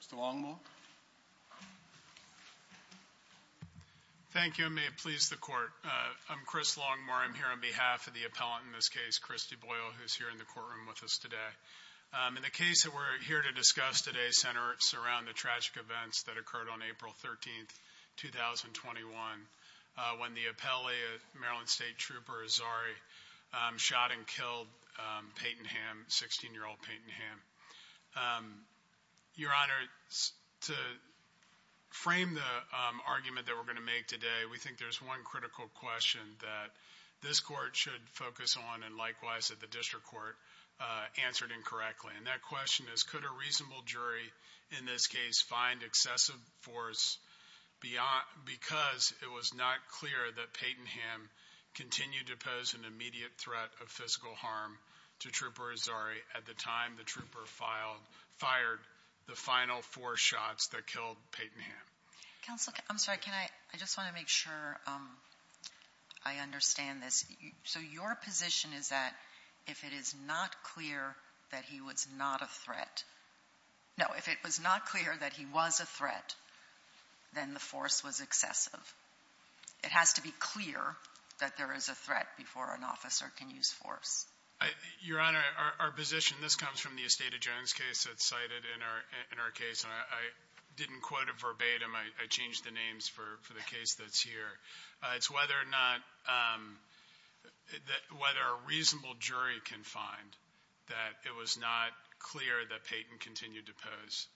Mr. Longmore. Thank you, and may it please the court. I'm Chris Longmore. I'm here on behalf of the appellant in this case, Christy Boyle, who's here in the courtroom with us today. In the case that we're here to discuss today, Senator, it's around the tragic events that occurred on April 13, 2021, when the appellee, a Maryland State Trooper, Azzari, shot and killed 16-year-old Peyton Hamm. Your Honor, to frame the argument that we're going to make today, we think there's one critical question that this court should focus on, and likewise that the district court answered incorrectly. And that question is, could a reasonable jury in this case find excessive force because it was not clear that Peyton Hamm continued to pose an immediate threat of physical harm to Trooper Azzari at the time the trooper fired the final four shots that killed Peyton Hamm? Counsel, I'm sorry, can I, I just want to make sure I understand this. So your position is that if it is not clear that he was not a threat, no, if it was not clear that he was a threat, then the force was excessive. It has to be clear that there is a threat before an officer can use force. Your Honor, our position, this comes from the Esteta Jones case that's cited in our case, and I didn't quote it verbatim, I changed the names for the case that's here. It's whether or not, whether a reasonable jury can find that it was not clear that Peyton continued to pose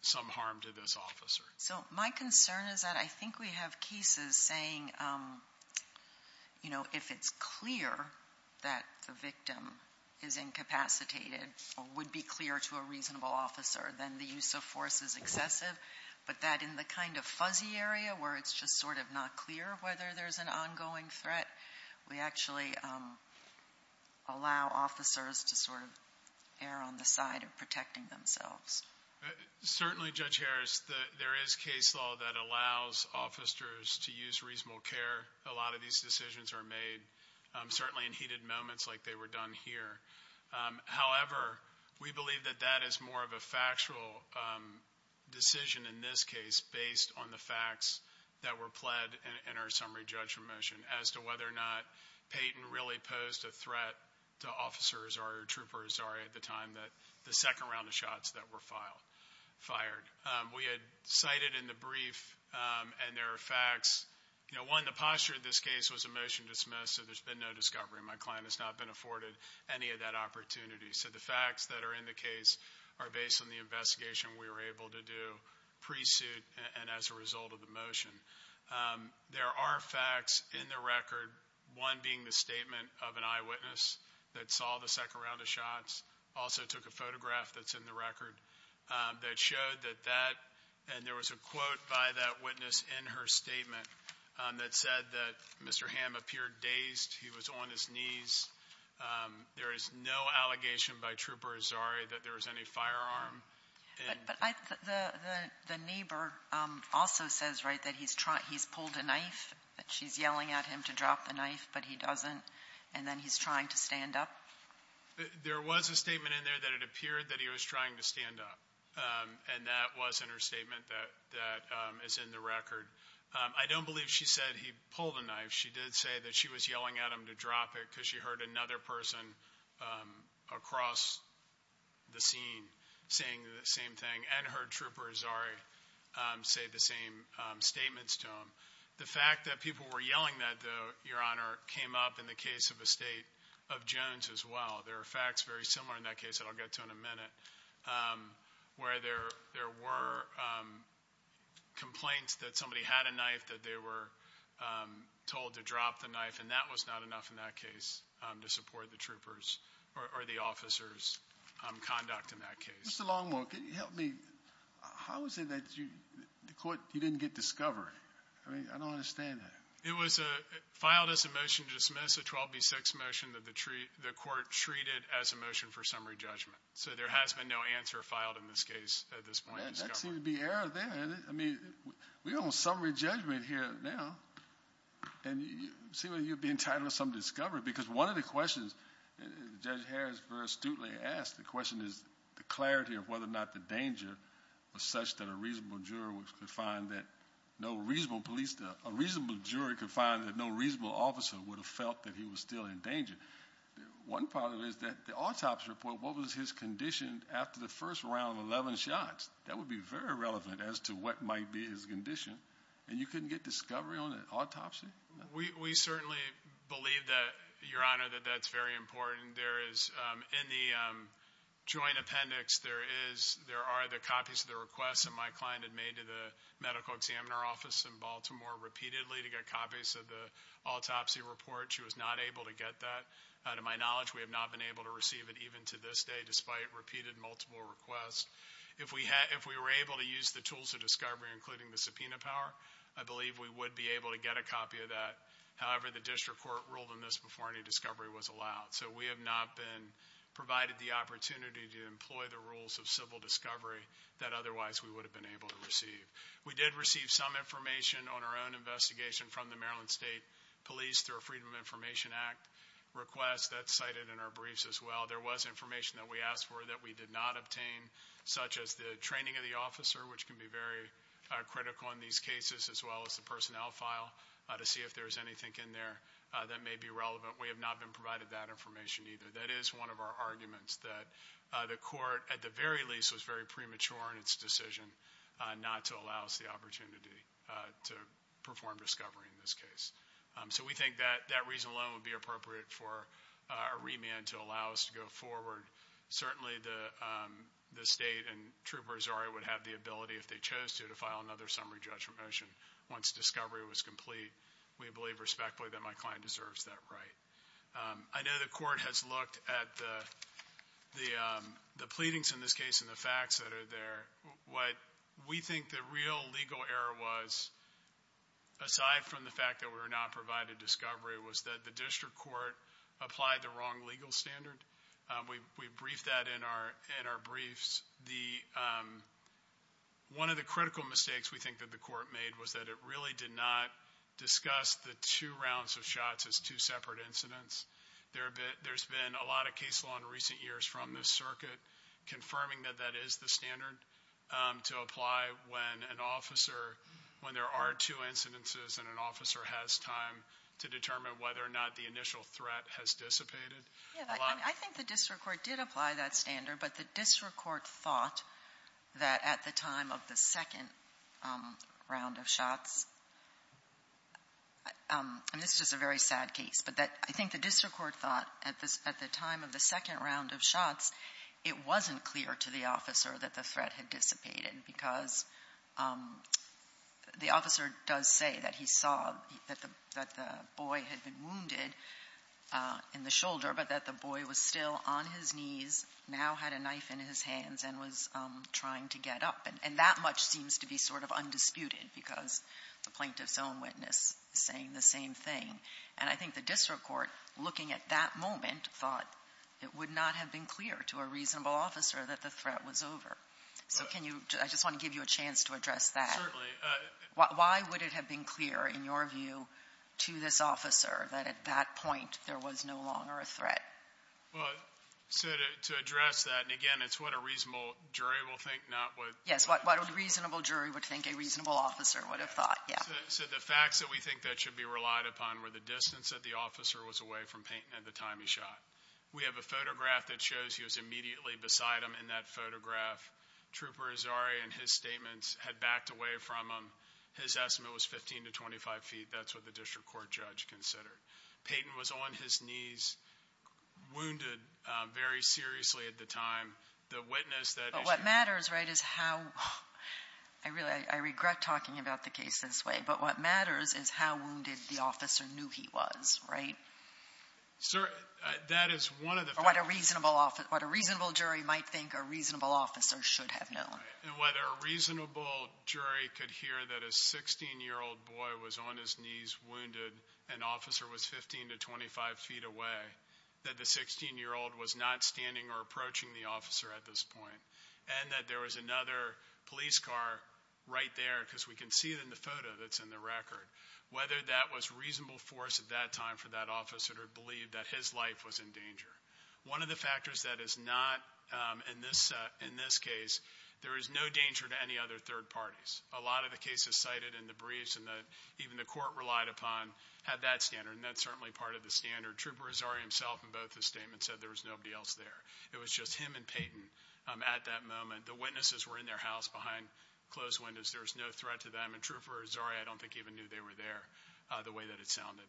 some harm to this officer. So my concern is that I think we have cases saying, you know, if it's clear that the victim is incapacitated or would be clear to a reasonable officer, then the use of force is excessive, but that in the kind of fuzzy area where it's just sort of not clear whether there's an ongoing threat, we actually allow officers to sort of err on the side of protecting themselves. Certainly, Judge Harris, there is case law that allows officers to use reasonable care. A lot of these decisions are made certainly in heated moments like they were done here. However, we believe that that is more of a factual decision in this case based on the facts that were pled in our summary judgment motion as to whether or not Peyton really posed a threat to officers or troopers, sorry, at the time that the second round of shots that were fired. We had cited in the brief, and there are facts, you know, one, the posture of this case was a motion dismissed, so there's been no discovery. My client has not been afforded any of that opportunity. So the facts that are in the case are based on the investigation we were able to do pre-suit and as a result of the motion. There are facts in the record, one being the statement of an eyewitness that saw the second round of shots, also took a photograph that's in the record that showed that that, and there was a quote by that witness in her statement that said that Mr. Hamm appeared dazed. He was on his knees. There is no allegation by Trooper Azari that there was any firearm. But I, the neighbor also says, right, that he's trying, he's pulled a knife, that she's yelling at him to drop the knife, but he doesn't, and then he's trying to stand up. There was a statement in there that it appeared that he was trying to stand up, and that was in her statement that is in the record. I don't believe she said he pulled a knife. She did say that she was yelling at him to drop it because she heard another person across the scene saying the same thing, and heard Trooper Azari say the same statements to him. The fact that people were yelling that, though, Your Honor, came up in the case of a state of Jones as well. There are facts very similar in that case that I'll get to in a minute, where there were complaints that somebody had a knife, that they were told to drop the knife, and that was not enough in that case to support the troopers or the officer's conduct in that case. Mr. Longmore, can you help me? How is it that the court, you didn't get discovery? I mean, I don't understand that. It was filed as a motion to dismiss, a 12B6 motion that the court treated as a motion for summary judgment, so there has been no answer filed in this case at this point. That seems to be error there. I mean, we're on summary judgment here now, and you seem to be entitled to some discovery, because one of the questions Judge Harris very astutely asked, the question is the clarity of whether or not the danger was such that a reasonable jury could find that no reasonable officer would have felt that he was still in danger. One part of it is that the autopsy report, what was his condition after the first round of 11 shots? That would be very relevant as to what might be his condition, and you couldn't get discovery on an autopsy? We certainly believe that, Your Honor, that that's very important. There is, in the joint appendix, there are the copies of the requests that my client had made to the medical examiner office in Baltimore repeatedly to get copies of the autopsy report. She was not able to get that. To my knowledge, we have not been able to receive it even to this day, despite repeated multiple requests. If we were able to use the tools of discovery, including the subpoena power, I believe we would be able to get a copy of that. However, the district court ruled on this before any discovery was allowed, so we have not been provided the opportunity to employ the rules of civil discovery that otherwise we would have been able to receive. We did receive some information on our own investigation from the Maryland State Police through a Freedom of Information Act request. That's cited in our briefs as well. There was information that we asked for that we did not obtain, such as the training of the officer, which can be very critical in these cases, as well as the personnel file to see if there's anything in there that may be relevant. We have not been provided that information either. That is one of our arguments, that the court, at the very least, was very premature in its decision not to allow us the opportunity to perform discovery in this case. So we think that that reason alone would be appropriate for a remand to allow us to go forward. Certainly the state and Trooper Azari would have the ability, if they chose to, to file another summary judgment once discovery was complete. We believe respectfully that my client deserves that right. I know the court has looked at the pleadings in this case and the facts that are there. What we think the real legal error was, aside from the fact that we were not provided discovery, was that the district court applied the wrong legal standard. We briefed that in our briefs. One of the critical mistakes we think that the court made was that it really did not discuss the two rounds of shots as two separate incidents. There's been a lot of case law in recent years from this circuit confirming that that is the standard to apply when an officer, when there are two incidences and an officer has time to determine whether or not the initial threat has dissipated. Yeah. I think the district court did apply that standard, but the district court thought that at the time of the second round of shots, and this is a very sad case, but that I think the district court thought at the time of the second round of shots, it wasn't clear to the officer that the threat had dissipated because the officer does say that he saw that the boy had been wounded in the shoulder, but that the boy was still on his knees, now had a knife in his hands, and was trying to get up. And that much seems to be sort of undisputed because the plaintiff's own witness is saying the same thing. And I think the district court, looking at that moment, thought it would not have been clear to a reasonable officer that the threat was over. So can you, I just want to give you a chance to address that. Certainly. Why would it have been clear, in your view, to this officer that at that point there was no longer a threat? Well, so to address that, and again it's what a reasonable jury will think, not what... Yes, what a reasonable jury would think a reasonable officer would have thought, yeah. So the facts that we think that should be relied upon were the distance that the beside him in that photograph. Trooper Azari, in his statements, had backed away from him. His estimate was 15 to 25 feet. That's what the district court judge considered. Payton was on his knees, wounded very seriously at the time. The witness that... But what matters, right, is how... I regret talking about the case this way, but what matters is how wounded the jury might think a reasonable officer should have known. And whether a reasonable jury could hear that a 16-year-old boy was on his knees, wounded, and officer was 15 to 25 feet away, that the 16-year-old was not standing or approaching the officer at this point, and that there was another police car right there, because we can see it in the photo that's in the record, whether that was reasonable force at that time for that officer to believe that his life was in danger. One of the factors that is not in this case, there is no danger to any other third parties. A lot of the cases cited in the briefs and even the court relied upon had that standard, and that's certainly part of the standard. Trooper Azari himself, in both his statements, said there was nobody else there. It was just him and Payton at that moment. The witnesses were in their house behind closed windows. There was no threat to them. And Trooper Azari, I don't think, even knew they were there the way that it sounded.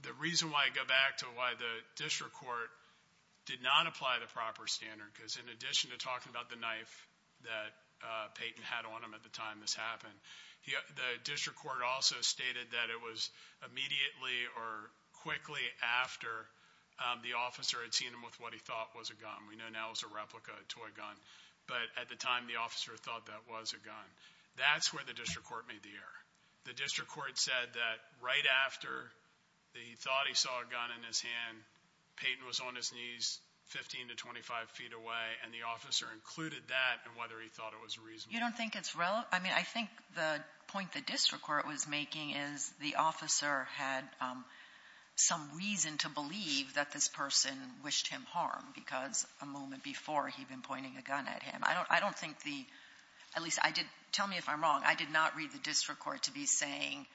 The reason why I go back to why the district court did not apply the proper standard, because in addition to talking about the knife that Payton had on him at the time this happened, the district court also stated that it was immediately or quickly after the officer had seen him with what he thought was a gun. We know now it was a replica, a toy gun, but at the time the officer thought that was a gun. That's where the district court said that right after he thought he saw a gun in his hand, Payton was on his knees 15 to 25 feet away, and the officer included that in whether he thought it was reasonable. You don't think it's relevant? I mean, I think the point the district court was making is the officer had some reason to believe that this person wished him harm because a moment before he'd been pointing a gun at him. I don't think the — at least I did — tell me if I'm wrong. I did not read the district court to be saying,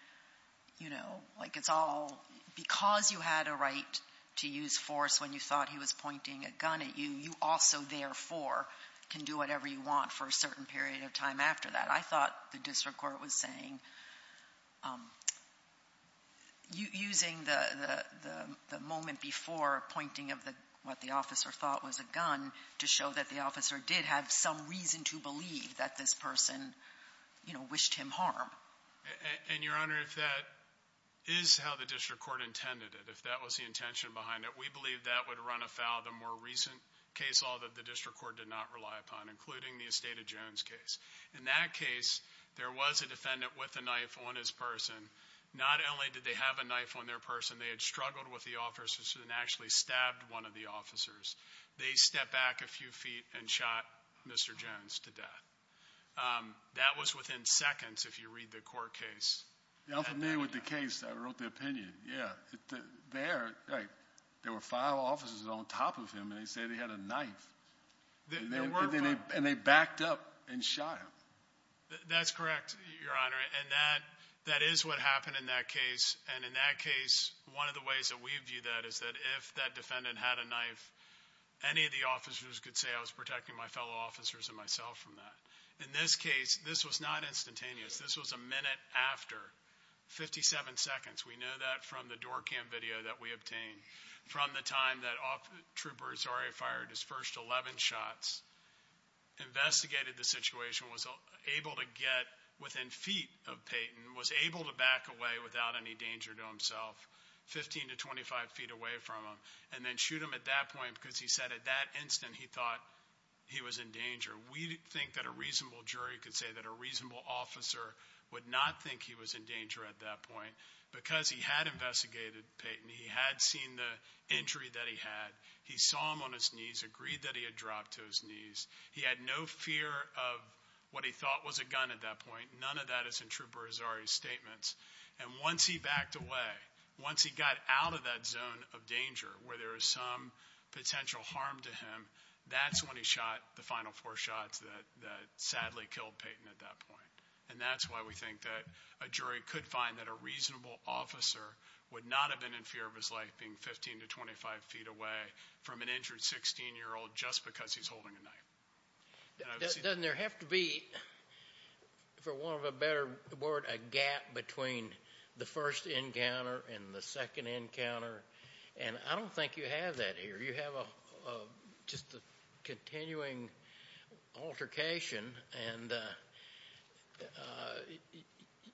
you know, like it's all — because you had a right to use force when you thought he was pointing a gun at you, you also therefore can do whatever you want for a certain period of time after that. I thought the district court was saying using the moment before pointing of what the officer thought was a gun to show that the harm. And, Your Honor, if that is how the district court intended it, if that was the intention behind it, we believe that would run afoul of the more recent case law that the district court did not rely upon, including the Estate of Jones case. In that case, there was a defendant with a knife on his person. Not only did they have a knife on their person, they had struggled with the officer and actually stabbed one of the officers. They stepped back a few feet and shot Mr. Jones to death. That was within seconds, if you read the court case. I'm familiar with the case. I wrote the opinion. Yeah. There were five officers on top of him, and they said he had a knife. And they backed up and shot him. That's correct, Your Honor. And that is what happened in that case. And in that case, one of the ways that we view that is that if that defendant had a knife, any of the officers could say, I was protecting my fellow officers and myself from that. In this case, this was not instantaneous. This was a minute after, 57 seconds. We know that from the door cam video that we obtained from the time that Trooper Azari fired his first 11 shots, investigated the situation, was able to get within feet of Payton, was able to back away without any danger to himself, 15 to 25 feet away from him, and then shoot him at that point because he said at that instant he thought he was in danger. We think that a reasonable jury could say that a reasonable officer would not think he was in danger at that point because he had investigated Payton. He had seen the injury that he had. He saw him on his knees, agreed that he had dropped to his knees. He had no fear of what he thought was a gun at that point. None of that is in Trooper Azari's statements. And once he backed away, once he got out of that zone of danger where there was some potential harm to him, that's when he shot the final four shots that sadly killed Payton at that point. And that's why we think that a jury could find that a reasonable officer would not have been in fear of his life being 15 to 25 feet away from an injured 16-year-old just because he's holding a knife. Doesn't there have to be, for want of a better word, a gap between the first encounter and the second encounter? And I don't think you have that here. You have just a continuing altercation, and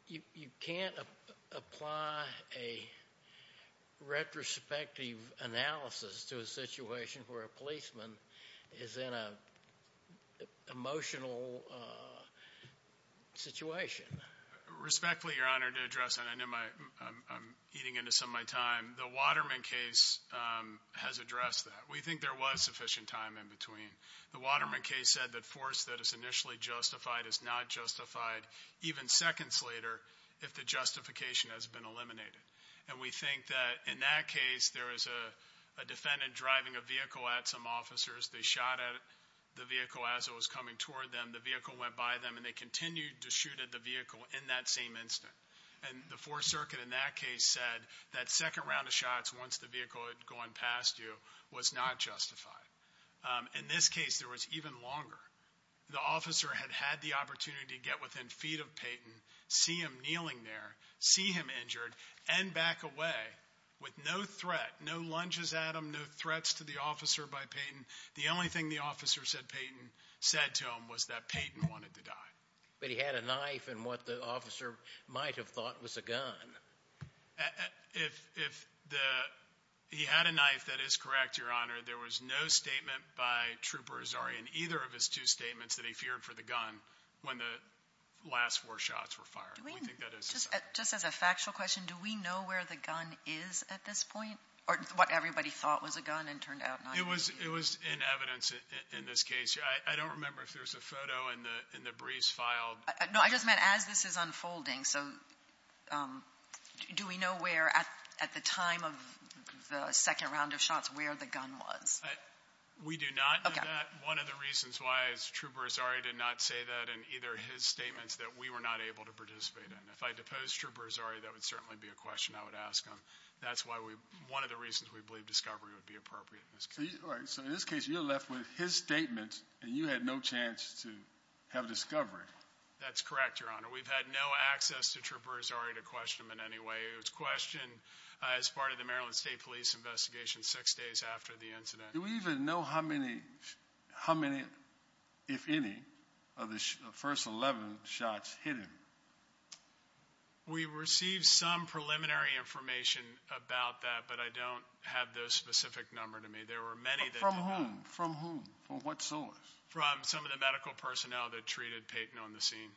you can't apply a retrospective analysis to a situation where a policeman is in an emotional situation. Respectfully, Your Honor, to address that. I know I'm eating into some of my time. The Waterman case has addressed that. We think there was sufficient time in between. The Waterman case said that force that is initially justified is not justified even seconds later if the justification has been eliminated. And we think that in that case, there is a defendant driving a vehicle at some officers. They shot at the vehicle as it was coming toward them. The vehicle went by them, and they continued to shoot at the vehicle in that same instant. And the Fourth Circuit in that case said that second round of shots, once the vehicle had gone past you, was not justified. In this case, there was even longer. The officer had had the opportunity to get within feet of Payton, see him kneeling there, see him injured, and back away with no threat, no lunges at him, no threats to the officer by Payton. The only thing the officer said Payton said to him was that Payton wanted to die. But he had a knife and what the officer might have thought was a gun. If he had a knife, that is correct, Your Honor. There was no statement by Trooper Azari in either of his two statements that he feared for the gun when the last four were fired. Do we know where the gun is at this point? Or what everybody thought was a gun and turned out not to be? It was in evidence in this case. I don't remember if there's a photo in the briefs file. No, I just meant as this is unfolding. So do we know where at the time of the second round of shots, where the gun was? We do not know that. One of the reasons why is Trooper Azari did not say that in either his statements that we were not able to participate in. If I deposed Trooper Azari, that would certainly be a question I would ask him. That's why we, one of the reasons we believe discovery would be appropriate in this case. All right, so in this case you're left with his statement and you had no chance to have a discovery. That's correct, Your Honor. We've had no access to Trooper Azari to question him in any way. It was questioned as part of the Maryland State Police investigation six days after the incident. Do we even know how many, if any, of the first 11 shots hit him? We received some preliminary information about that, but I don't have the specific number to me. There were many. From whom? From what source? From some of the medical personnel that treated Peyton on the scene.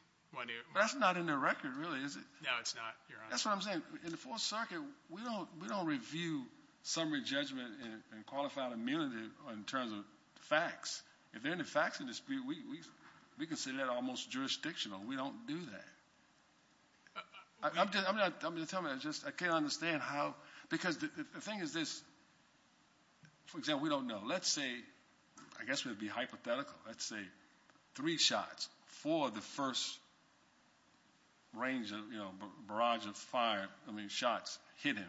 That's not in the record, really, is it? No, it's not, Your Honor. That's what I'm saying. In the Fourth Circuit, we don't review summary that. We consider that almost jurisdictional. We don't do that. I'm just telling you, I can't understand how, because the thing is this, for example, we don't know. Let's say, I guess it would be hypothetical, let's say three shots, four of the first range of barrage of shots hit him.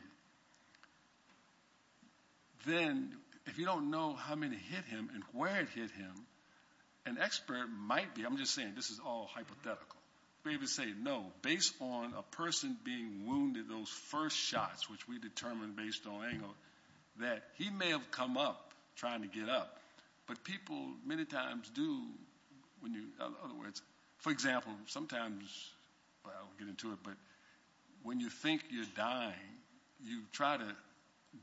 Then if you don't know how many hit him and where it hit him, an expert might be, I'm just saying this is all hypothetical, maybe say no. Based on a person being wounded, those first shots, which we determined based on angle, that he may have come up trying to get up, but people many times do when you, in other words, for example, sometimes, well, I'll get into it, but when you think you're dying, you try to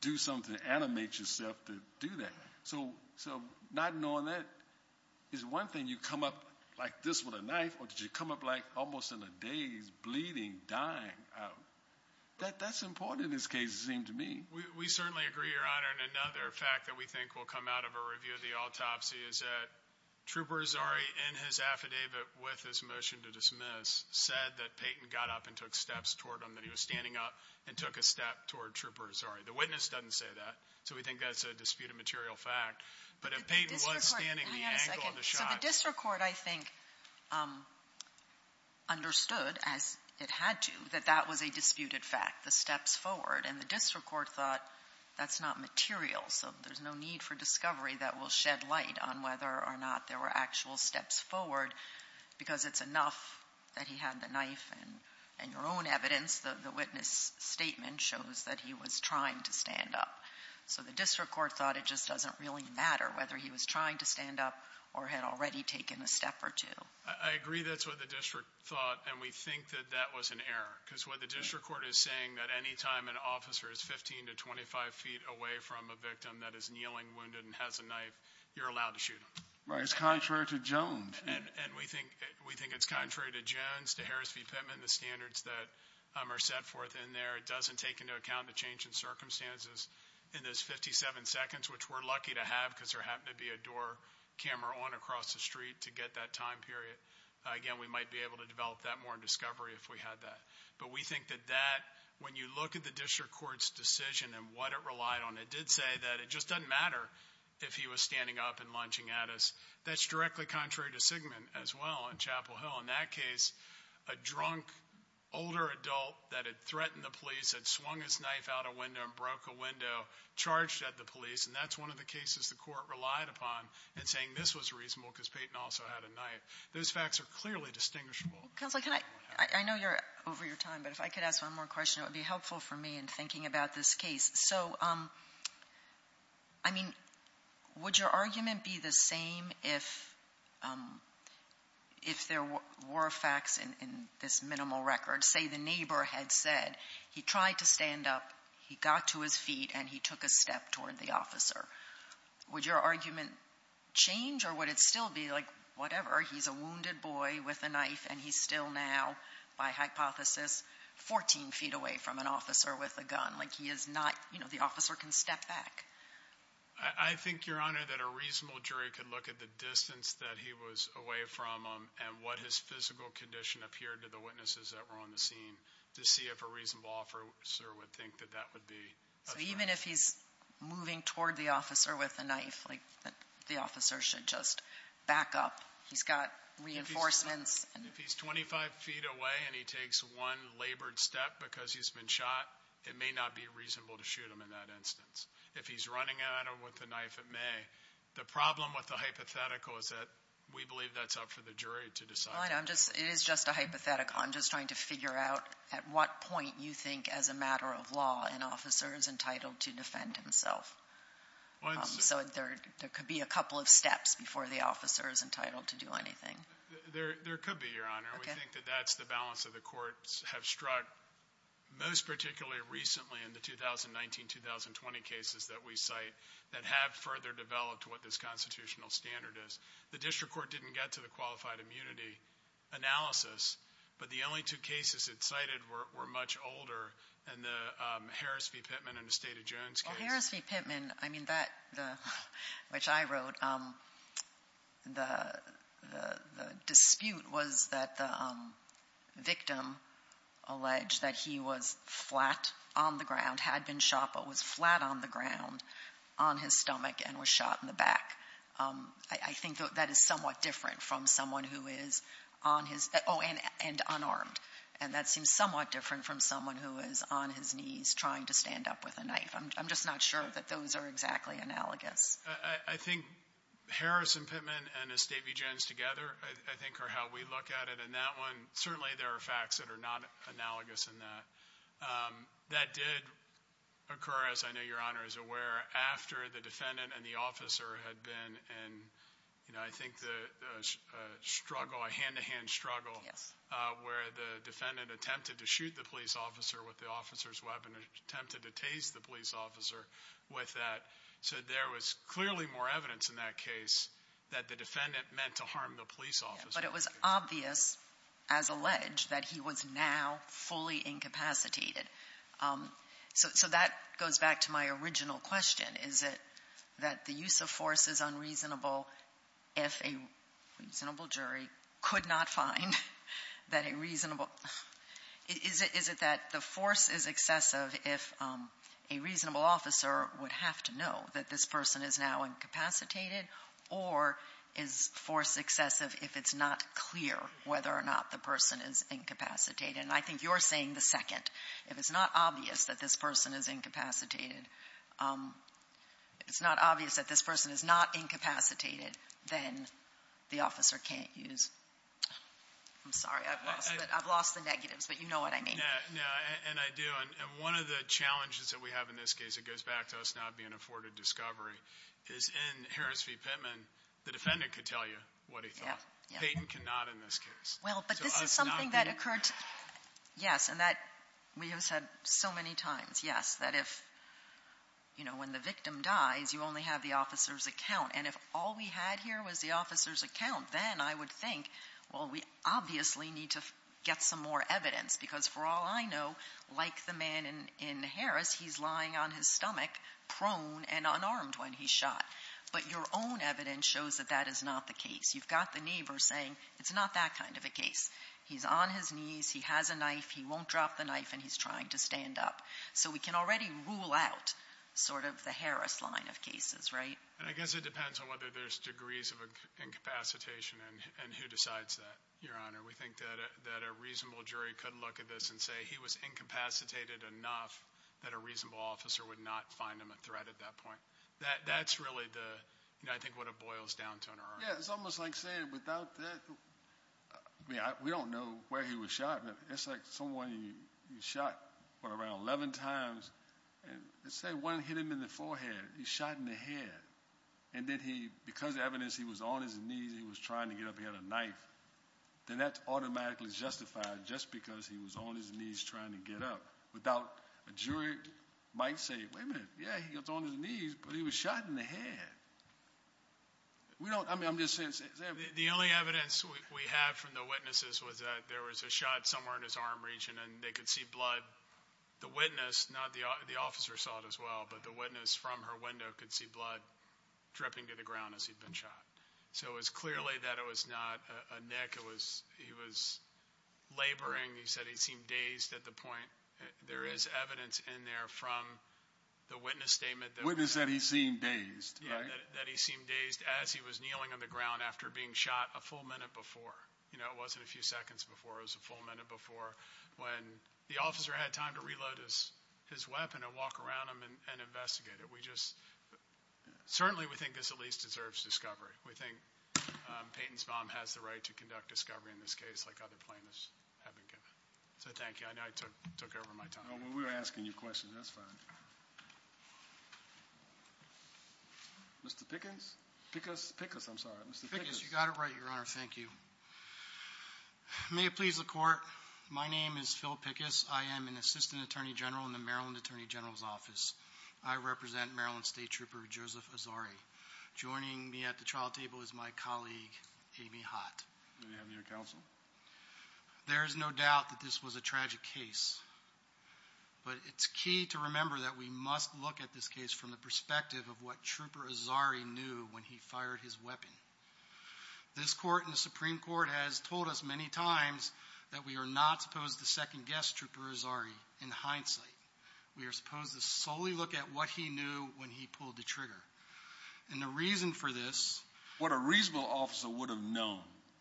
do something to animate yourself to do that. Not knowing that is one thing. You come up like this with a knife, or did you come up like almost in a daze, bleeding, dying? That's important in this case, it seemed to me. We certainly agree, Your Honor. Another fact that we think will come out of a review of the autopsy is that Trooper Azari, in his affidavit with his motion to dismiss, said that Peyton got up and took steps toward him, that he was standing up and took a step toward Trooper Azari. The witness doesn't say that, so we think that's a disputed material fact, but if Peyton was standing at the angle of the shot. So the district court, I think, understood, as it had to, that that was a disputed fact, the steps forward, and the district court thought that's not material, so there's no need for discovery that will shed light on whether or not there were actual steps forward, because it's enough that he had the knife and your own evidence, the witness statement shows that he was trying to stand up. So the district court thought it just doesn't really matter whether he was trying to stand up or had already taken a step or two. I agree that's what the district thought, and we think that that was an error, because what the district court is saying, that any time an officer is 15 to 25 feet away from a victim that is kneeling, wounded, and has a knife, you're allowed to shoot him. Right. It's contrary to Jones. And we think it's contrary to Jones, to Harris v. Pittman, the standards that are set forth in there. It doesn't take into account the change in circumstances. In those 57 seconds, which we're lucky to have, because there happened to be a door camera on across the street to get that time period. Again, we might be able to develop that more in discovery if we had that. But we think that that, when you look at the district court's decision and what it relied on, it did say that it just doesn't matter if he was standing up and lunging at us. That's directly contrary to Sigman, as well, in Chapel Hill. In that case, a drunk, older adult that had threatened the police, had swung his knife out a window and broke a window, charged at the police, and that's one of the cases the court relied upon in saying this was reasonable because Payton also had a knife. Those facts are clearly distinguishable. Counselor, can I, I know you're over your time, but if I could ask one more question, it would be helpful for me in thinking about this case. So, I mean, would your argument be the same if there were facts in this minimal record? Say the neighbor had said he tried to stand up, he got to his feet, and he took a step toward the officer. Would your argument change, or would it still be like, whatever, he's a wounded boy with a knife, and he's still now, by hypothesis, 14 feet away from an officer with a gun. Like, he is not, you know, the officer can step back. I think, Your Honor, that a reasonable jury could look at the distance that he was away from him and what his physical condition appeared to the witnesses that were on the scene to see if a reasonable officer would think that that would be. So, even if he's moving toward the officer with a knife, like, the officer should just back up. He's got reinforcements. If he's 25 feet away and he takes one labored step because he's been shot, it may not be reasonable to shoot him in that instance. If he's running at him with a knife, it may. The problem with the hypothetical is that we believe that's up for the jury to decide. Well, I know. It is just a hypothetical. I'm just trying to figure out at what point you think, as a matter of law, an officer is entitled to defend himself. So, there could be a couple of steps before the officer is entitled to do anything. There could be, Your Honor. We think that that's the balance that the courts have struck, most particularly recently in the 2019-2020 cases that we cite, that have further developed what this constitutional standard is. The district court didn't get to the qualified immunity analysis, but the only two cases it cited were much older than the Harris v. Pittman and the State of Jones case. Well, Harris v. Pittman, I mean, that, which I wrote, the dispute was that the he was flat on the ground, had been shot, but was flat on the ground on his stomach and was shot in the back. I think that is somewhat different from someone who is on his own and unarmed. And that seems somewhat different from someone who is on his knees trying to stand up with a knife. I'm just not sure that those are exactly analogous. I think Harris v. Pittman and the State v. Jones together, I think, are how we look at it. And that one, certainly, there are facts that are not analogous in that. That did occur, as I know Your Honor is aware, after the defendant and the officer had been in, you know, I think the struggle, a hand-to-hand struggle, where the defendant attempted to shoot the police officer with the officer's weapon and attempted to tase the police officer with that. So there was clearly more evidence in that case that the defendant meant to harm the police officer. But it was obvious, as alleged, that he was now fully incapacitated. So that goes back to my original question. Is it that the use of force is unreasonable if a reasonable jury could not find that a reasonable, is it that the force is excessive if a reasonable officer would have to know that this person is now incapacitated? Or is force excessive if it's not clear whether or not the person is incapacitated? And I think you're saying the second. If it's not obvious that this person is incapacitated, it's not obvious that this person is not incapacitated, then the officer can't use. I'm sorry, I've lost the negatives, but you know what I mean. No, and I do. And one of the challenges that we have in this case, it goes back to us not being afforded discovery, is in Harris v. Pittman, the defendant could tell you what he thought. Payton cannot in this case. Well, but this is something that occurred, yes, and that we have said so many times, yes, that if, you know, when the victim dies, you only have the officer's account. And if all we had here was the officer's account, then I would think, well, we obviously need to get some more evidence, because for all I know, like the man in Harris, he's lying on his stomach, prone and unarmed when he shot. But your own evidence shows that that is not the case. You've got the neighbor saying, it's not that kind of a case. He's on his knees, he has a knife, he won't drop the knife, and he's trying to stand up. So we can already rule out sort of the Harris line of cases, right? And I guess it depends on whether there's degrees of incapacitation and who decides that, Your Honor, we think that a reasonable jury could look at this and say he was incapacitated enough that a reasonable officer would not find him a threat at that point. That's really the, you know, I think what it boils down to in our argument. Yeah, it's almost like saying without that, I mean, we don't know where he was shot, but it's like someone, he shot, what, around 11 times, and let's say one hit him in the forehead, he shot in the head. And then he, because of the evidence, he was on his knees, he was trying to get up, then that's automatically justified just because he was on his knees trying to get up. Without, a jury might say, wait a minute, yeah, he was on his knees, but he was shot in the head. We don't, I mean, I'm just saying, the only evidence we have from the witnesses was that there was a shot somewhere in his arm region and they could see blood. The witness, not the officer saw it as well, but the witness from her window could see blood dripping to the ground as he'd been shot. So it was clearly that it was not a nick. It was, he was laboring. He said he seemed dazed at the point. There is evidence in there from the witness statement. The witness said he seemed dazed, right? That he seemed dazed as he was kneeling on the ground after being shot a full minute before, you know, it wasn't a few seconds before, it was a full minute before when the officer had time to reload his weapon and walk around him and investigate it. We just, certainly we think this at least deserves discovery. We think Peyton's bomb has the right to conduct discovery in this case like other plaintiffs have been given. So thank you. I know I took over my time. We're asking you questions, that's fine. Mr. Pickens? Pickus? Pickus, I'm sorry. Mr. Pickens. You got it right, your honor. Thank you. May it please the court, my name is Phil Pickus. I am an assistant attorney general in the Maryland Attorney General's Office. I represent Maryland State Trooper Joseph Azari. Joining me at the trial table is my colleague, Amy Hott. May we have your counsel? There is no doubt that this was a tragic case, but it's key to remember that we must look at this case from the perspective of what Trooper Azari knew when he fired his weapon. This court and the Supreme Court has told us many times that we are not supposed to second-guess Trooper Azari in hindsight. We are supposed to solely look at what he knew when he pulled the trigger. And the reason for this... What a reasonable officer would have known...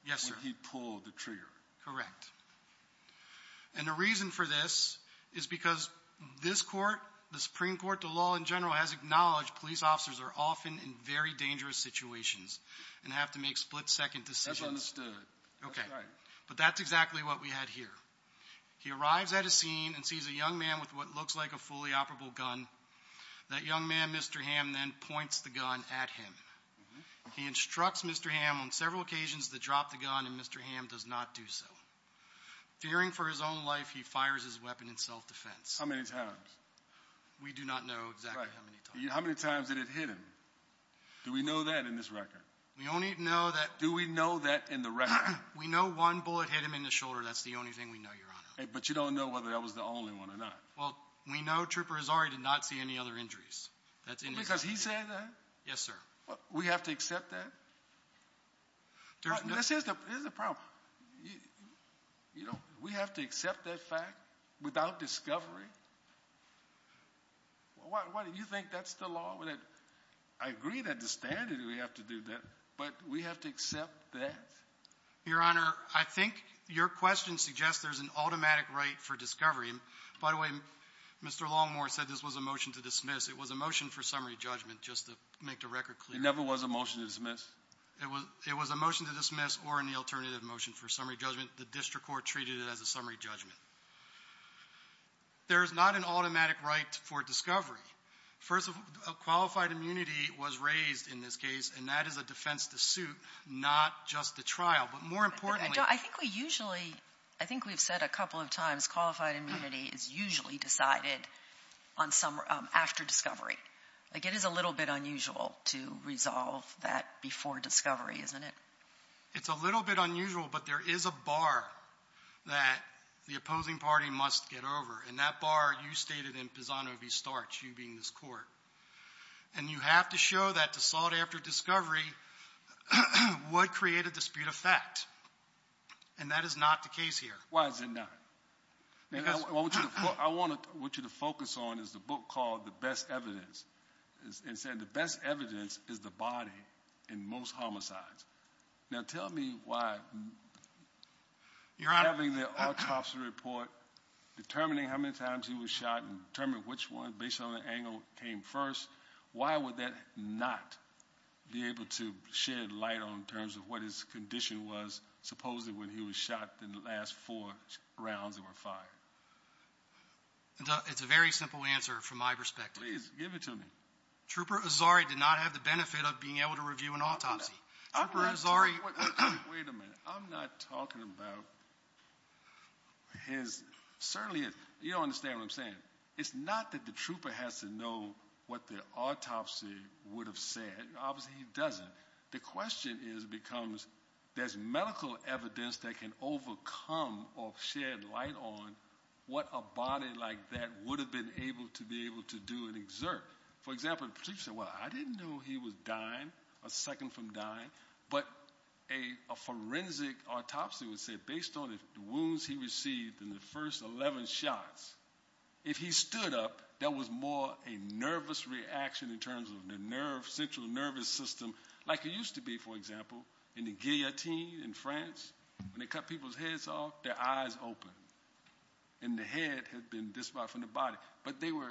Yes, sir. ...when he pulled the trigger. Correct. And the reason for this is because this court, the Supreme Court, the law in general, has acknowledged police officers are often in very dangerous situations and have to make split-second decisions. That's understood. Okay. That's right. He arrives at a scene and sees a young man with what looks like a fully operable gun. That young man, Mr. Hamm, then points the gun at him. He instructs Mr. Hamm on several occasions to drop the gun, and Mr. Hamm does not do so. Fearing for his own life, he fires his weapon in self-defense. How many times? We do not know exactly how many times. How many times did it hit him? Do we know that in this record? We only know that... Do we know that in the record? We know one bullet hit him in the shoulder. That's the only thing we know, Your Honor. But you don't know whether that was the only one or not. Well, we know Trooper Azari did not see any other injuries. Well, because he said that? Yes, sir. We have to accept that? This is the problem. We have to accept that fact without discovery? Why do you think that's the law? I agree that the standard, we have to do that, but we have to accept that? Your Honor, I think your question suggests there's an automatic right for discovery. By the way, Mr. Longmore said this was a motion to dismiss. It was a motion for summary judgment, just to make the record clear. It never was a motion to dismiss? It was a motion to dismiss or an alternative motion for summary judgment. The district court treated it as a summary judgment. There is not an automatic right for discovery. First, a qualified immunity was raised in this case, and that is a defense to suit, not just the trial, but more importantly... I think we usually, I think we've said a couple of times, qualified immunity is usually decided after discovery. Like, it is a little bit unusual to resolve that before discovery, isn't it? It's a little bit unusual, but there is a bar that the opposing party must get over, and that bar you stated in Pisano v. Starch, you being this court. And you have to show that to sort after discovery, would create a dispute of fact, and that is not the case here. Why is it not? I want you to focus on is the book called The Best Evidence, and said the best evidence is the body in most homicides. Now, tell me why having the autopsy report, determining how many times he was shot, and determine which one based on the angle came first, why would that not be able to shed light on terms of what his condition was, supposedly, when he was shot in the last four rounds that were fired? It's a very simple answer from my perspective. Please, give it to me. Trooper Azari did not have the benefit of being able to review an autopsy. Wait a minute. I'm not talking about his... You don't understand what I'm saying. It's not that the trooper has to know what the autopsy would have said. Obviously, he doesn't. The question is becomes, there's medical evidence that can overcome or shed light on what a body like that would have been able to be able to do and exert. For example, the police said, well, I didn't know he was dying, a second from dying. But a forensic autopsy would say, based on the wounds he received in the first 11 shots, if he stood up, that was more a nervous reaction in terms of the central nervous system, like it used to be, for example, in the guillotine in France, when they cut people's heads off, their eyes open. And the head had been disbarred from the body. But they were...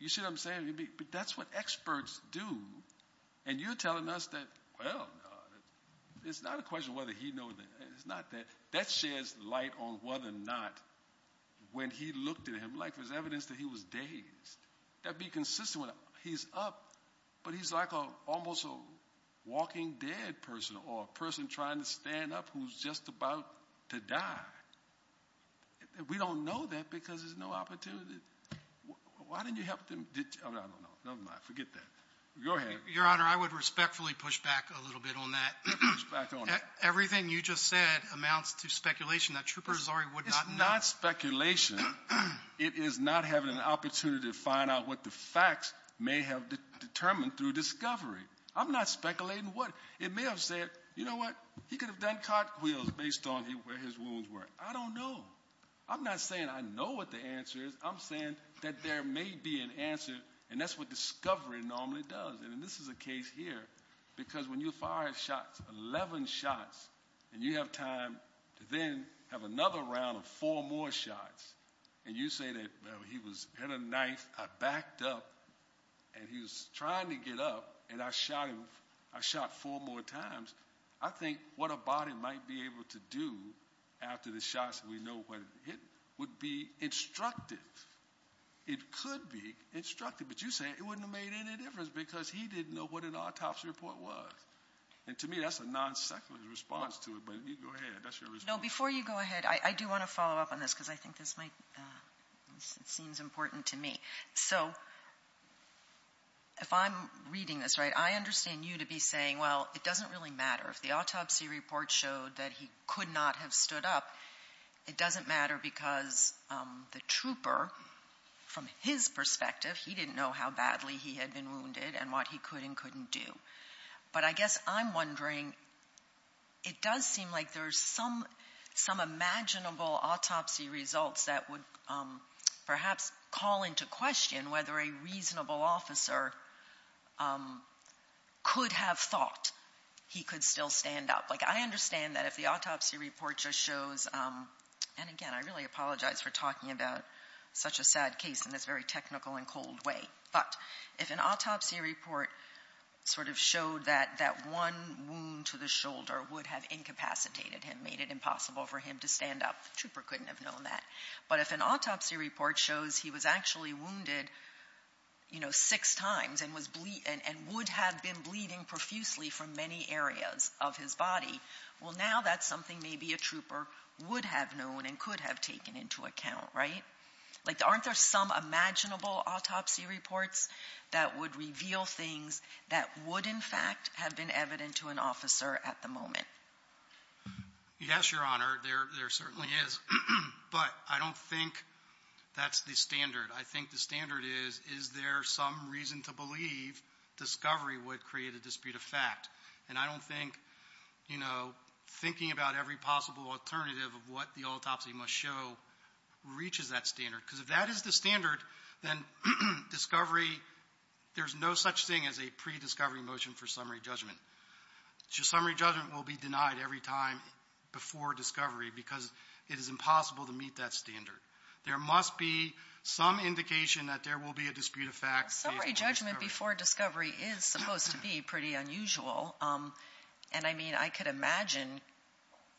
You see what I'm saying? But that's what experts do. And you're telling us that, well, it's not a question whether he know that. It's not that. That sheds light on whether or not, when he looked at him, like there's evidence that he was dazed. That'd be consistent when he's up. But he's like almost a walking dead person or a person trying to stand up who's just about to die. We don't know that because there's no opportunity. Why didn't you help them? I don't know. Never mind. Forget that. Go ahead. Your Honor, I would respectfully push back a little bit on that. Push back on that. Everything you just said amounts to speculation that Trooper Zari would not know. It's not speculation. It is not having an opportunity to find out what the facts may have determined through discovery. I'm not speculating what. It may have said, you know what? He could have done cartwheels based on where his wounds were. I don't know. I'm not saying I know what the answer is. I'm saying that there may be an answer. And that's what discovery normally does. And this is a case here. Because when you fire shots, 11 shots, and you have time to then have another round of four more shots. And you say that he was hit a knife. I backed up and he was trying to get up. And I shot him. I shot four more times. I think what a body might be able to do after the shots, we know what it would be instructive. It could be instructive. But you say it wouldn't have made any difference because he didn't know what an autopsy report was. And to me, that's a non-secular response to it. But you go ahead. That's your response. No, before you go ahead, I do want to follow up on this. Because I think this might, it seems important to me. So if I'm reading this right, I understand you to be saying, well, it doesn't really matter. If the autopsy report showed that he could not have stood up, it doesn't matter. Because the trooper, from his perspective, he didn't know how badly he had been wounded and what he could and couldn't do. But I guess I'm wondering, it does seem like there's some imaginable autopsy results that would perhaps call into question whether a reasonable officer could have thought he could still stand up. Like, I understand that if the autopsy report just shows, and again, I really apologize for talking about such a sad case in this very technical and cold way. But if an autopsy report sort of showed that that one wound to the shoulder would have incapacitated him, made it impossible for him to stand up, the trooper couldn't have known that. But if an autopsy report shows he was actually wounded six times and would have been bleeding profusely from many areas of his body, well, now that's something maybe a trooper would have known and could have taken into account, right? Like, aren't there some imaginable autopsy reports that would reveal things that would, in fact, have been evident to an officer at the moment? Yes, Your Honor, there certainly is. But I don't think that's the standard. I think the standard is, is there some reason to believe discovery would create a dispute of fact? And I don't think, you know, thinking about every possible alternative of what the autopsy must show reaches that standard. Because if that is the standard, then discovery, there's no such thing as a pre-discovery motion for summary judgment. Summary judgment will be denied every time before discovery because it is impossible to meet that standard. There must be some indication that there will be a dispute of fact. Well, summary judgment before discovery is supposed to be pretty unusual. And I mean, I could imagine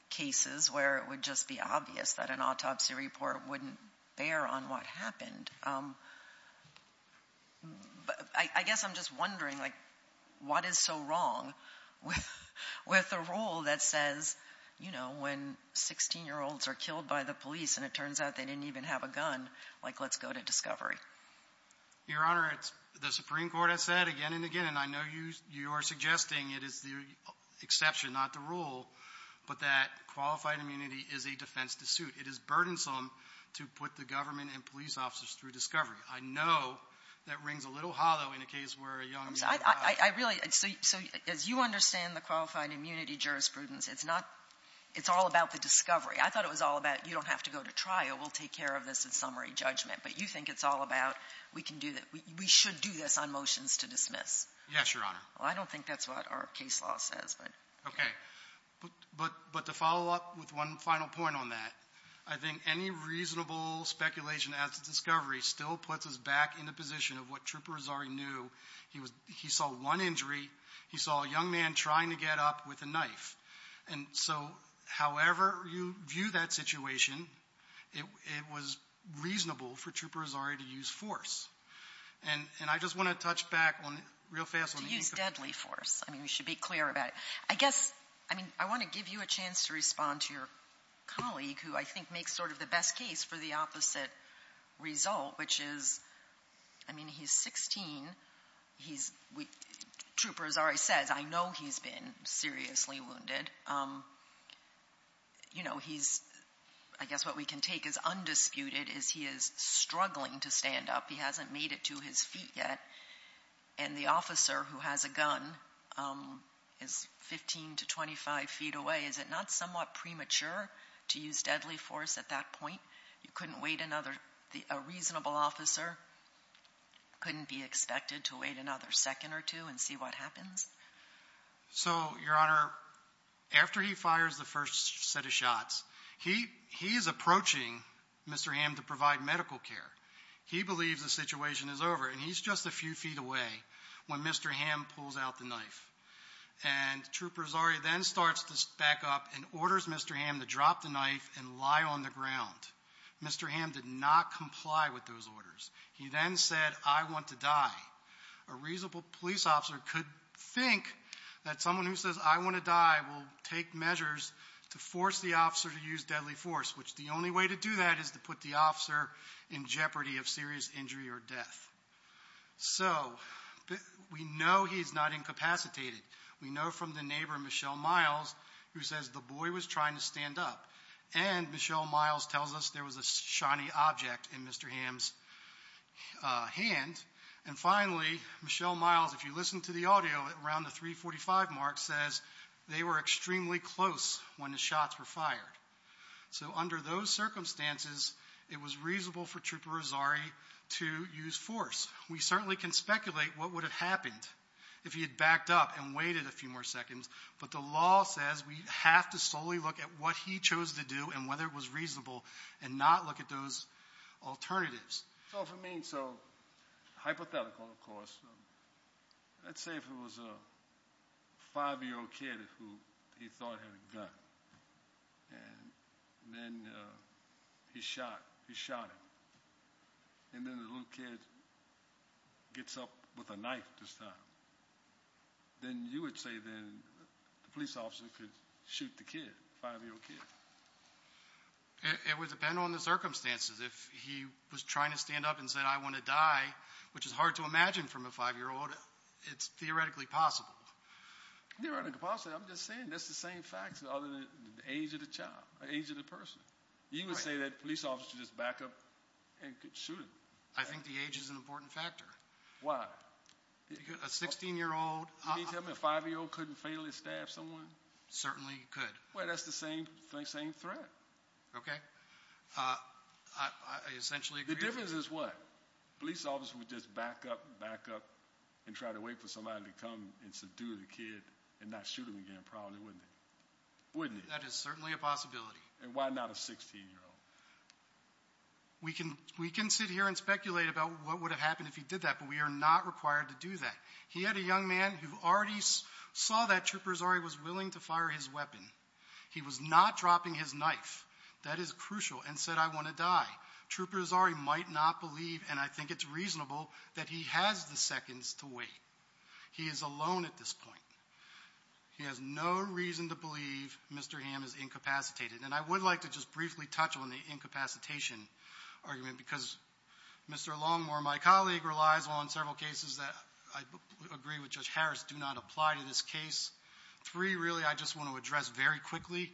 cases where it would just be obvious that an autopsy report wouldn't bear on what happened. I guess I'm just wondering, like, what is so wrong with a rule that says, you know, when 16-year-olds are killed by the police and it turns out they didn't even have a gun, like, let's go to discovery? Your Honor, the Supreme Court has said again and again, and I know you are suggesting it is the exception, not the rule, but that qualified immunity is a defense to suit. It is burdensome to put the government and police officers through discovery. I know that rings a little hollow in a case where a young man died. I really, so as you understand the qualified immunity jurisprudence, it's not, it's all about the discovery. I thought it was all about, you don't have to go to trial, we'll take care of this in summary judgment. But you think it's all about, we can do that, we should do this on motions to dismiss. Yes, Your Honor. Well, I don't think that's what our case law says, but. Okay, but to follow up with one final point on that, I think any reasonable speculation as to discovery still puts us back in the position of what Trooper Rosari knew. He saw one injury, he saw a young man trying to get up with a knife. And so, however you view that situation, it was reasonable for Trooper Rosari to use force. And I just want to touch back on, real fast. To use deadly force. I mean, we should be clear about it. I mean, I want to give you a chance to respond to your colleague, who I think makes sort of the best case for the opposite result, which is, I mean, he's 16, Trooper Rosari says, I know he's been seriously wounded. I guess what we can take as undisputed is he is struggling to stand up. He hasn't made it to his feet yet. And the officer who has a gun is 15 to 25 feet away. Is it not somewhat premature to use deadly force at that point? You couldn't wait another, a reasonable officer couldn't be expected to wait another second or two and see what happens? So, Your Honor, after he fires the first set of shots, he is approaching Mr. Hamm to provide medical care. He believes the situation is over. And he's just a few feet away when Mr. Hamm pulls out the knife. And Trooper Rosari then starts to back up and orders Mr. Hamm to drop the knife and lie on the ground. Mr. Hamm did not comply with those orders. He then said, I want to die. A reasonable police officer could think that someone who says, I want to die, will take measures to force the officer to use deadly force, which the only way to do that is to put the officer in jeopardy of serious injury or death. So, we know he's not incapacitated. We know from the neighbor, Michelle Miles, who says the boy was trying to stand up. And Michelle Miles tells us there was a shiny object in Mr. Hamm's hand. And finally, Michelle Miles, if you listen to the audio around the 345 mark, says they were extremely close when the shots were fired. So under those circumstances, it was reasonable for Trooper Rosari to use force. We certainly can speculate what would have happened if he had backed up and waited a few more seconds. But the law says we have to solely look at what he chose to do and whether it was reasonable and not look at those alternatives. So for me, so hypothetical, of course. Let's say if it was a five-year-old kid who he thought had a gun and then he shot, he shot him. And then the little kid gets up with a knife this time. Then you would say then the police officer could shoot the kid, five-year-old kid. It would depend on the circumstances. If he was trying to stand up and said, I want to die, which is hard to imagine from a five-year-old, it's theoretically possible. Theoretically possible, I'm just saying that's the same facts other than the age of the child, the age of the person. You would say that police officer just back up and could shoot him. I think the age is an important factor. Why? A 16-year-old. You mean to tell me a five-year-old couldn't fatally stab someone? Certainly could. Well, that's the same threat. Okay. I essentially agree. The difference is what? Police officer would just back up, back up and try to wait for somebody to come and subdue the kid and not shoot him again, probably, wouldn't he? Wouldn't he? That is certainly a possibility. And why not a 16-year-old? We can sit here and speculate about what would have happened if he did that, but we are not required to do that. He had a young man who already saw that Trooper Azari was willing to fire his weapon. He was not dropping his knife. That is crucial. And said, I want to die. Trooper Azari might not believe, and I think it's reasonable, that he has the seconds to wait. He is alone at this point. He has no reason to believe Mr. Ham is incapacitated. And I would like to just briefly touch on the incapacitation argument, because Mr. Longmore, my colleague, relies on several cases that I agree with Judge Harris do not apply to this case. Three, really, I just want to address very quickly.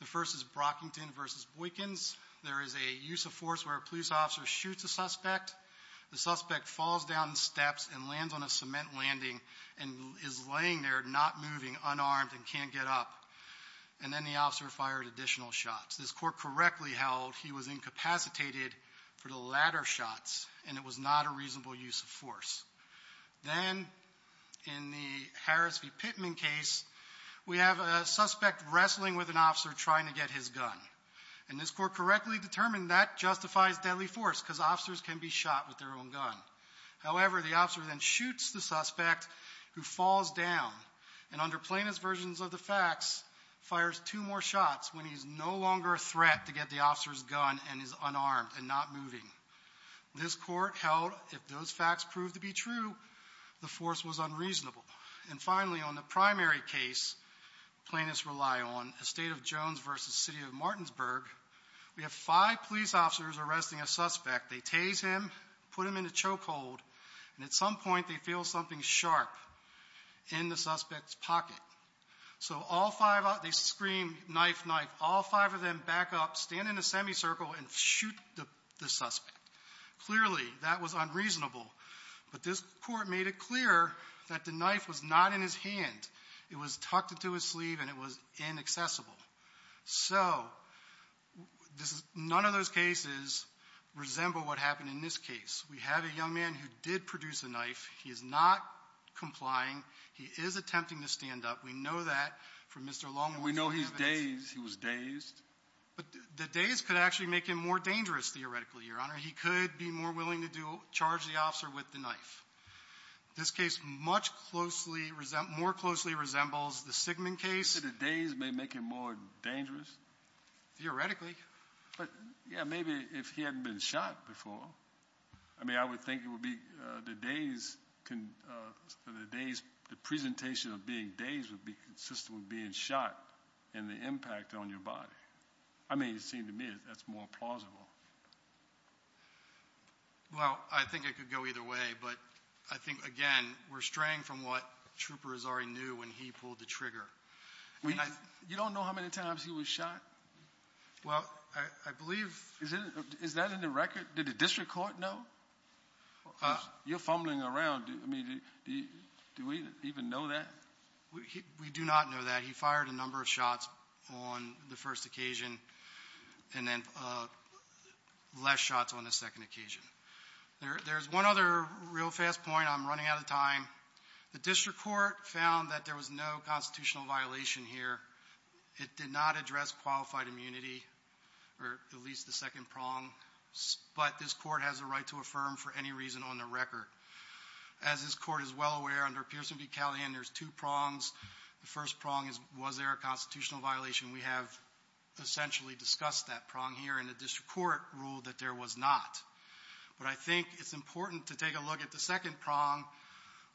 The first is Brockington v. Boykins. There is a use of force where a police officer shoots a suspect. The suspect falls down the steps and lands on a cement landing and is laying there, not moving, unarmed and can't get up. And then the officer fired additional shots. This court correctly held he was incapacitated for the latter shots, and it was not a reasonable use of force. Then, in the Harris v. Pittman case, we have a suspect wrestling with an officer trying to get his gun. And this court correctly determined that justifies deadly force, because officers can be shot with their own gun. However, the officer then shoots the suspect who falls down and under plaintiff's versions of the facts, fires two more shots when he is no longer a threat to get the officer's gun and is unarmed and not moving. This court held if those facts proved to be true, the force was unreasonable. And finally, on the primary case plaintiffs rely on, the state of Jones v. City of Martinsburg, we have five police officers arresting a suspect. They tase him, put him in a chokehold, and at some point they feel something sharp in the suspect's pocket. So, they scream, knife, knife, all five of them back up, stand in a semicircle, and shoot the suspect. Clearly, that was unreasonable. But this court made it clear that the knife was not in his hand. It was tucked into his sleeve and it was inaccessible. So, none of those cases resemble what happened in this case. We have a young man who did produce a knife. He is not complying. He is attempting to stand up. We know that from Mr. Longworth's evidence. And we know he's dazed. He was dazed. But the daze could actually make him more dangerous, theoretically, Your Honor. He could be more willing to do, charge the officer with the knife. This case much closely, more closely resembles the Sigmund case. So, the daze may make him more dangerous? Theoretically. But, yeah, maybe if he hadn't been shot before. I mean, I would think it would be the daze can, the daze, the implication of being dazed would be consistent with being shot and the impact on your body. I mean, it seemed to me that's more plausible. Well, I think it could go either way. But I think, again, we're straying from what Trooper Azari knew when he pulled the trigger. You don't know how many times he was shot? Well, I believe... Is that in the record? Did the district court know? You're fumbling around. I mean, do we even know that? We do not know that. He fired a number of shots on the first occasion and then less shots on the second occasion. There's one other real fast point. I'm running out of time. The district court found that there was no constitutional violation here. It did not address qualified immunity or at least the second prong. But this court has a right to affirm for any reason on the record. As this court is well aware, under Pearson v. Callahan, there's two prongs. The first prong is, was there a constitutional violation? We have essentially discussed that prong here and the district court ruled that there was not. But I think it's important to take a look at the second prong,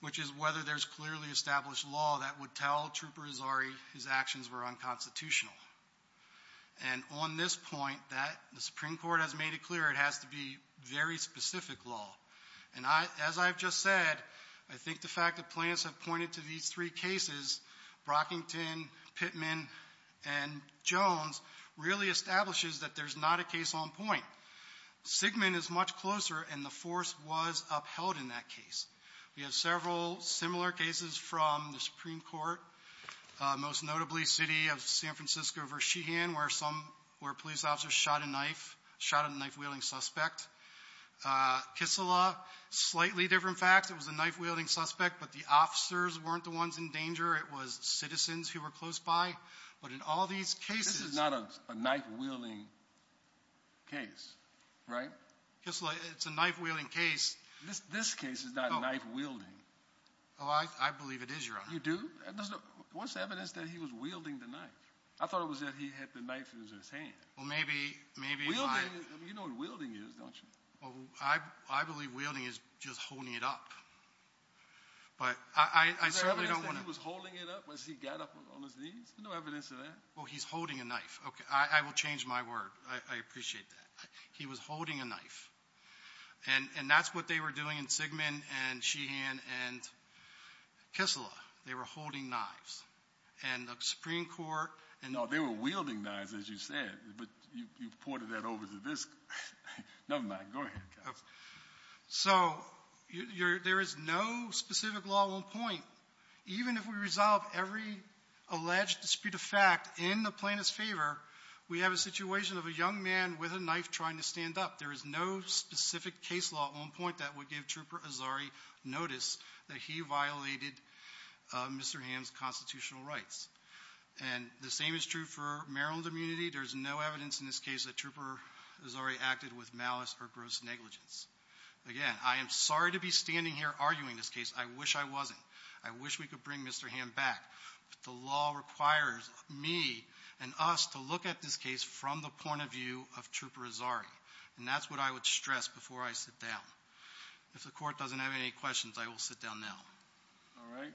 which is whether there's clearly established law that would tell Trooper Azari his actions were unconstitutional. And on this point, the Supreme Court has made it clear it has to be very specific law. And as I've just said, I think the fact that plaintiffs have pointed to these three cases, Brockington, Pittman, and Jones, really establishes that there's not a case on point. Sigmund is much closer and the force was upheld in that case. We have several similar cases from the Supreme Court, most notably City of San Francisco v. Sheehan where police officers shot a knife, shot a knife-wielding suspect. Kissela, slightly different facts. It was a knife-wielding suspect, but the officers weren't the ones in danger. It was citizens who were close by. But in all these cases — This is not a knife-wielding case, right? Kissela, it's a knife-wielding case. This case is not knife-wielding. Oh, I believe it is, Your Honor. You do? What's the evidence that he was wielding the knife? I thought it was that he had the knife in his hand. Well, maybe — You know what wielding is, don't you? Well, I believe wielding is just holding it up. But I certainly don't want to — Is there evidence that he was holding it up as he got up on his knees? No evidence of that. Well, he's holding a knife. Okay, I will change my word. I appreciate that. He was holding a knife. And that's what they were doing in Sigmund and Sheehan and Kissela. They were holding knives. And the Supreme Court — No, they were wielding knives, as you said. But you pointed that over to this. Never mind. Go ahead. So there is no specific law on point. Even if we resolve every alleged dispute of fact in the plaintiff's favor, we have a situation of a young man with a knife trying to stand up. There is no specific case law on point that would give Trooper Azari notice that he violated Mr. Ham's constitutional rights. And the same is true for Maryland immunity. There's no evidence in this case that Trooper Azari acted with malice or gross negligence. Again, I am sorry to be standing here arguing this case. I wish I wasn't. I wish we could bring Mr. Ham back. But the law requires me and us to look at this case from the point of view of Trooper Azari. And that's what I would stress before I sit down. If the Court doesn't have any questions, I will sit down now. All right.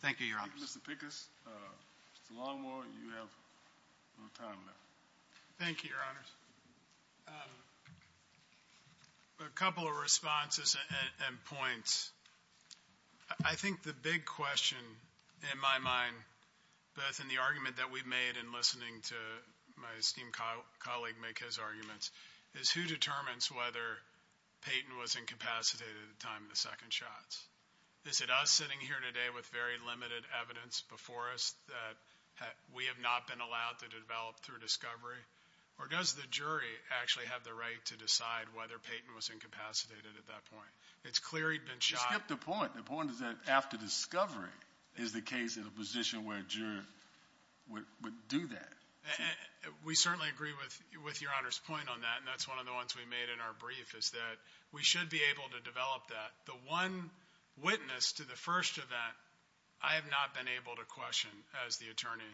Thank you, Your Honor. Mr. Pickus, Mr. Longmore, you have no time left. Thank you, Your Honors. A couple of responses and points. I think the big question in my mind, both in the argument that we've made in listening to my esteemed colleague make his arguments, is who determines whether Peyton was incapacitated at the time of the second shots? Is it us sitting here today with very limited evidence before us that we have not been allowed to develop through discovery? Or does the jury actually have the right to decide whether Peyton was incapacitated at that point? It's clear he'd been shot. Skip the point. The point is that after discovery is the case in a position where a juror would do that. We certainly agree with Your Honor's point on that. And that's one of the ones we made in our brief is that we should be able to develop that. The one witness to the first event, I have not been able to question as the attorney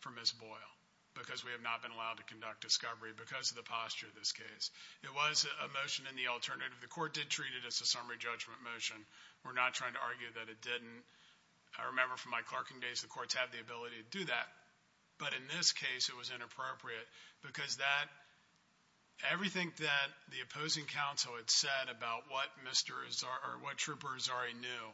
for Ms. Boyle because we have not been allowed to conduct discovery because of the posture of this case. It was a motion in the alternative. The court did treat it as a summary judgment motion. We're not trying to argue that it didn't. I remember from my clerking days, the courts have the ability to do that. But in this case, it was inappropriate because everything that the opposing counsel had said about what Trooper Azari knew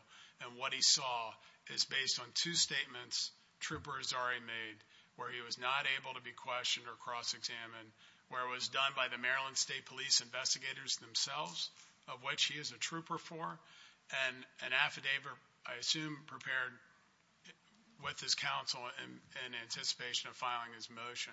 and what he saw is based on two statements Trooper Azari made where he was not able to be questioned or cross-examined, where it was done by the Maryland State Police investigators themselves, of which he is a trooper for, and an affidavit, I assume, prepared with his counsel in anticipation of filing his motion.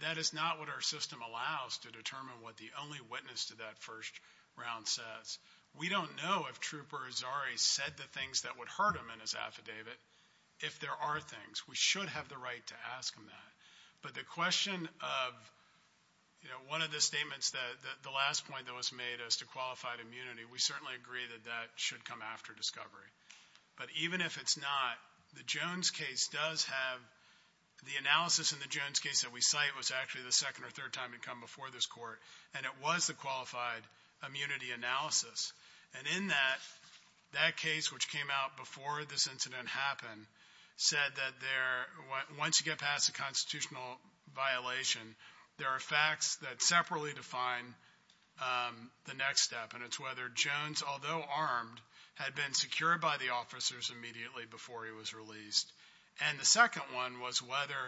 That is not what our system allows to determine what the only witness to that first round says. We don't know if Trooper Azari said the things that would hurt him in his affidavit, if there are things. We should have the right to ask him that. But the question of, you know, one of the statements that the last point that was made as to qualified immunity, we certainly agree that that should come after discovery. But even if it's not, the Jones case does have the analysis in the Jones case that we cite was actually the second or third time it had come before this Court, and it was the qualified immunity analysis. And in that, that case, which came out before this incident happened, said that once you get past a constitutional violation, there are facts that separately define the next step. And it's whether Jones, although armed, had been secured by the officers immediately before he was released. And the second one was whether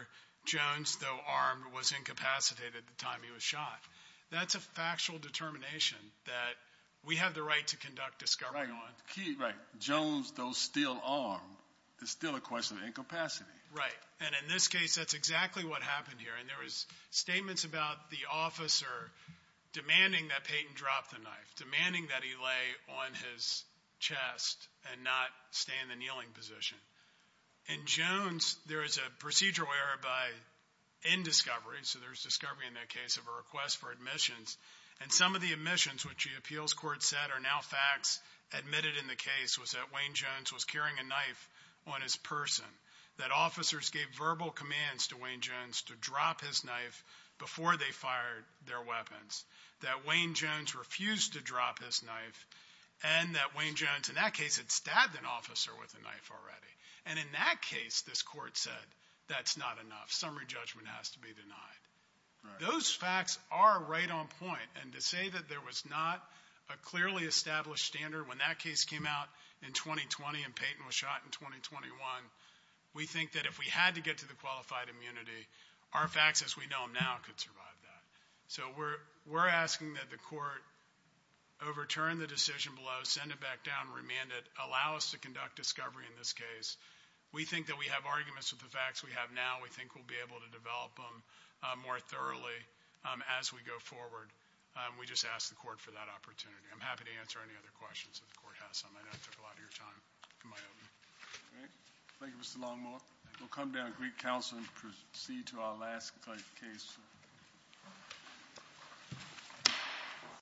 Jones, though armed, was incapacitated at the time he was shot. That's a factual determination that we have the right to conduct discovery on. Right. Right. Jones, though still armed, is still a question of incapacity. Right. And in this case, that's exactly what happened here. And there was statements about the officer demanding that Payton drop the knife, demanding that he lay on his chest and not stay in the kneeling position. In Jones, there is a procedural error in discovery. So there's discovery in that case of a request for admissions. And some of the admissions, which the appeals court said are now facts, admitted in the case was that Wayne Jones was carrying a knife on his person, that officers gave verbal commands to Wayne Jones to drop his knife before they fired their weapons, that Wayne Jones refused to drop his knife, and that Wayne Jones, in that case, had stabbed an officer with a knife already. And in that case, this court said, that's not enough. Summary judgment has to be denied. Right. Those facts are right on point. And to say that there was not a clearly established standard when that case came out in 2020 and Payton was shot in 2021, we think that if we had to get to the qualified immunity, our facts as we know them now could survive that. So we're asking that the court overturn the decision below, send it back down, remand it, allow us to conduct discovery in this case. We think that we have arguments with the facts we have now. We think we'll be able to develop them more thoroughly as we go forward. We just ask the court for that opportunity. I'm happy to answer any other questions that the court has. I know it took a lot of your time. Am I over? All right. Thank you, Mr. Longmore. We'll come down to Greek Council and proceed to our last case. Thank you.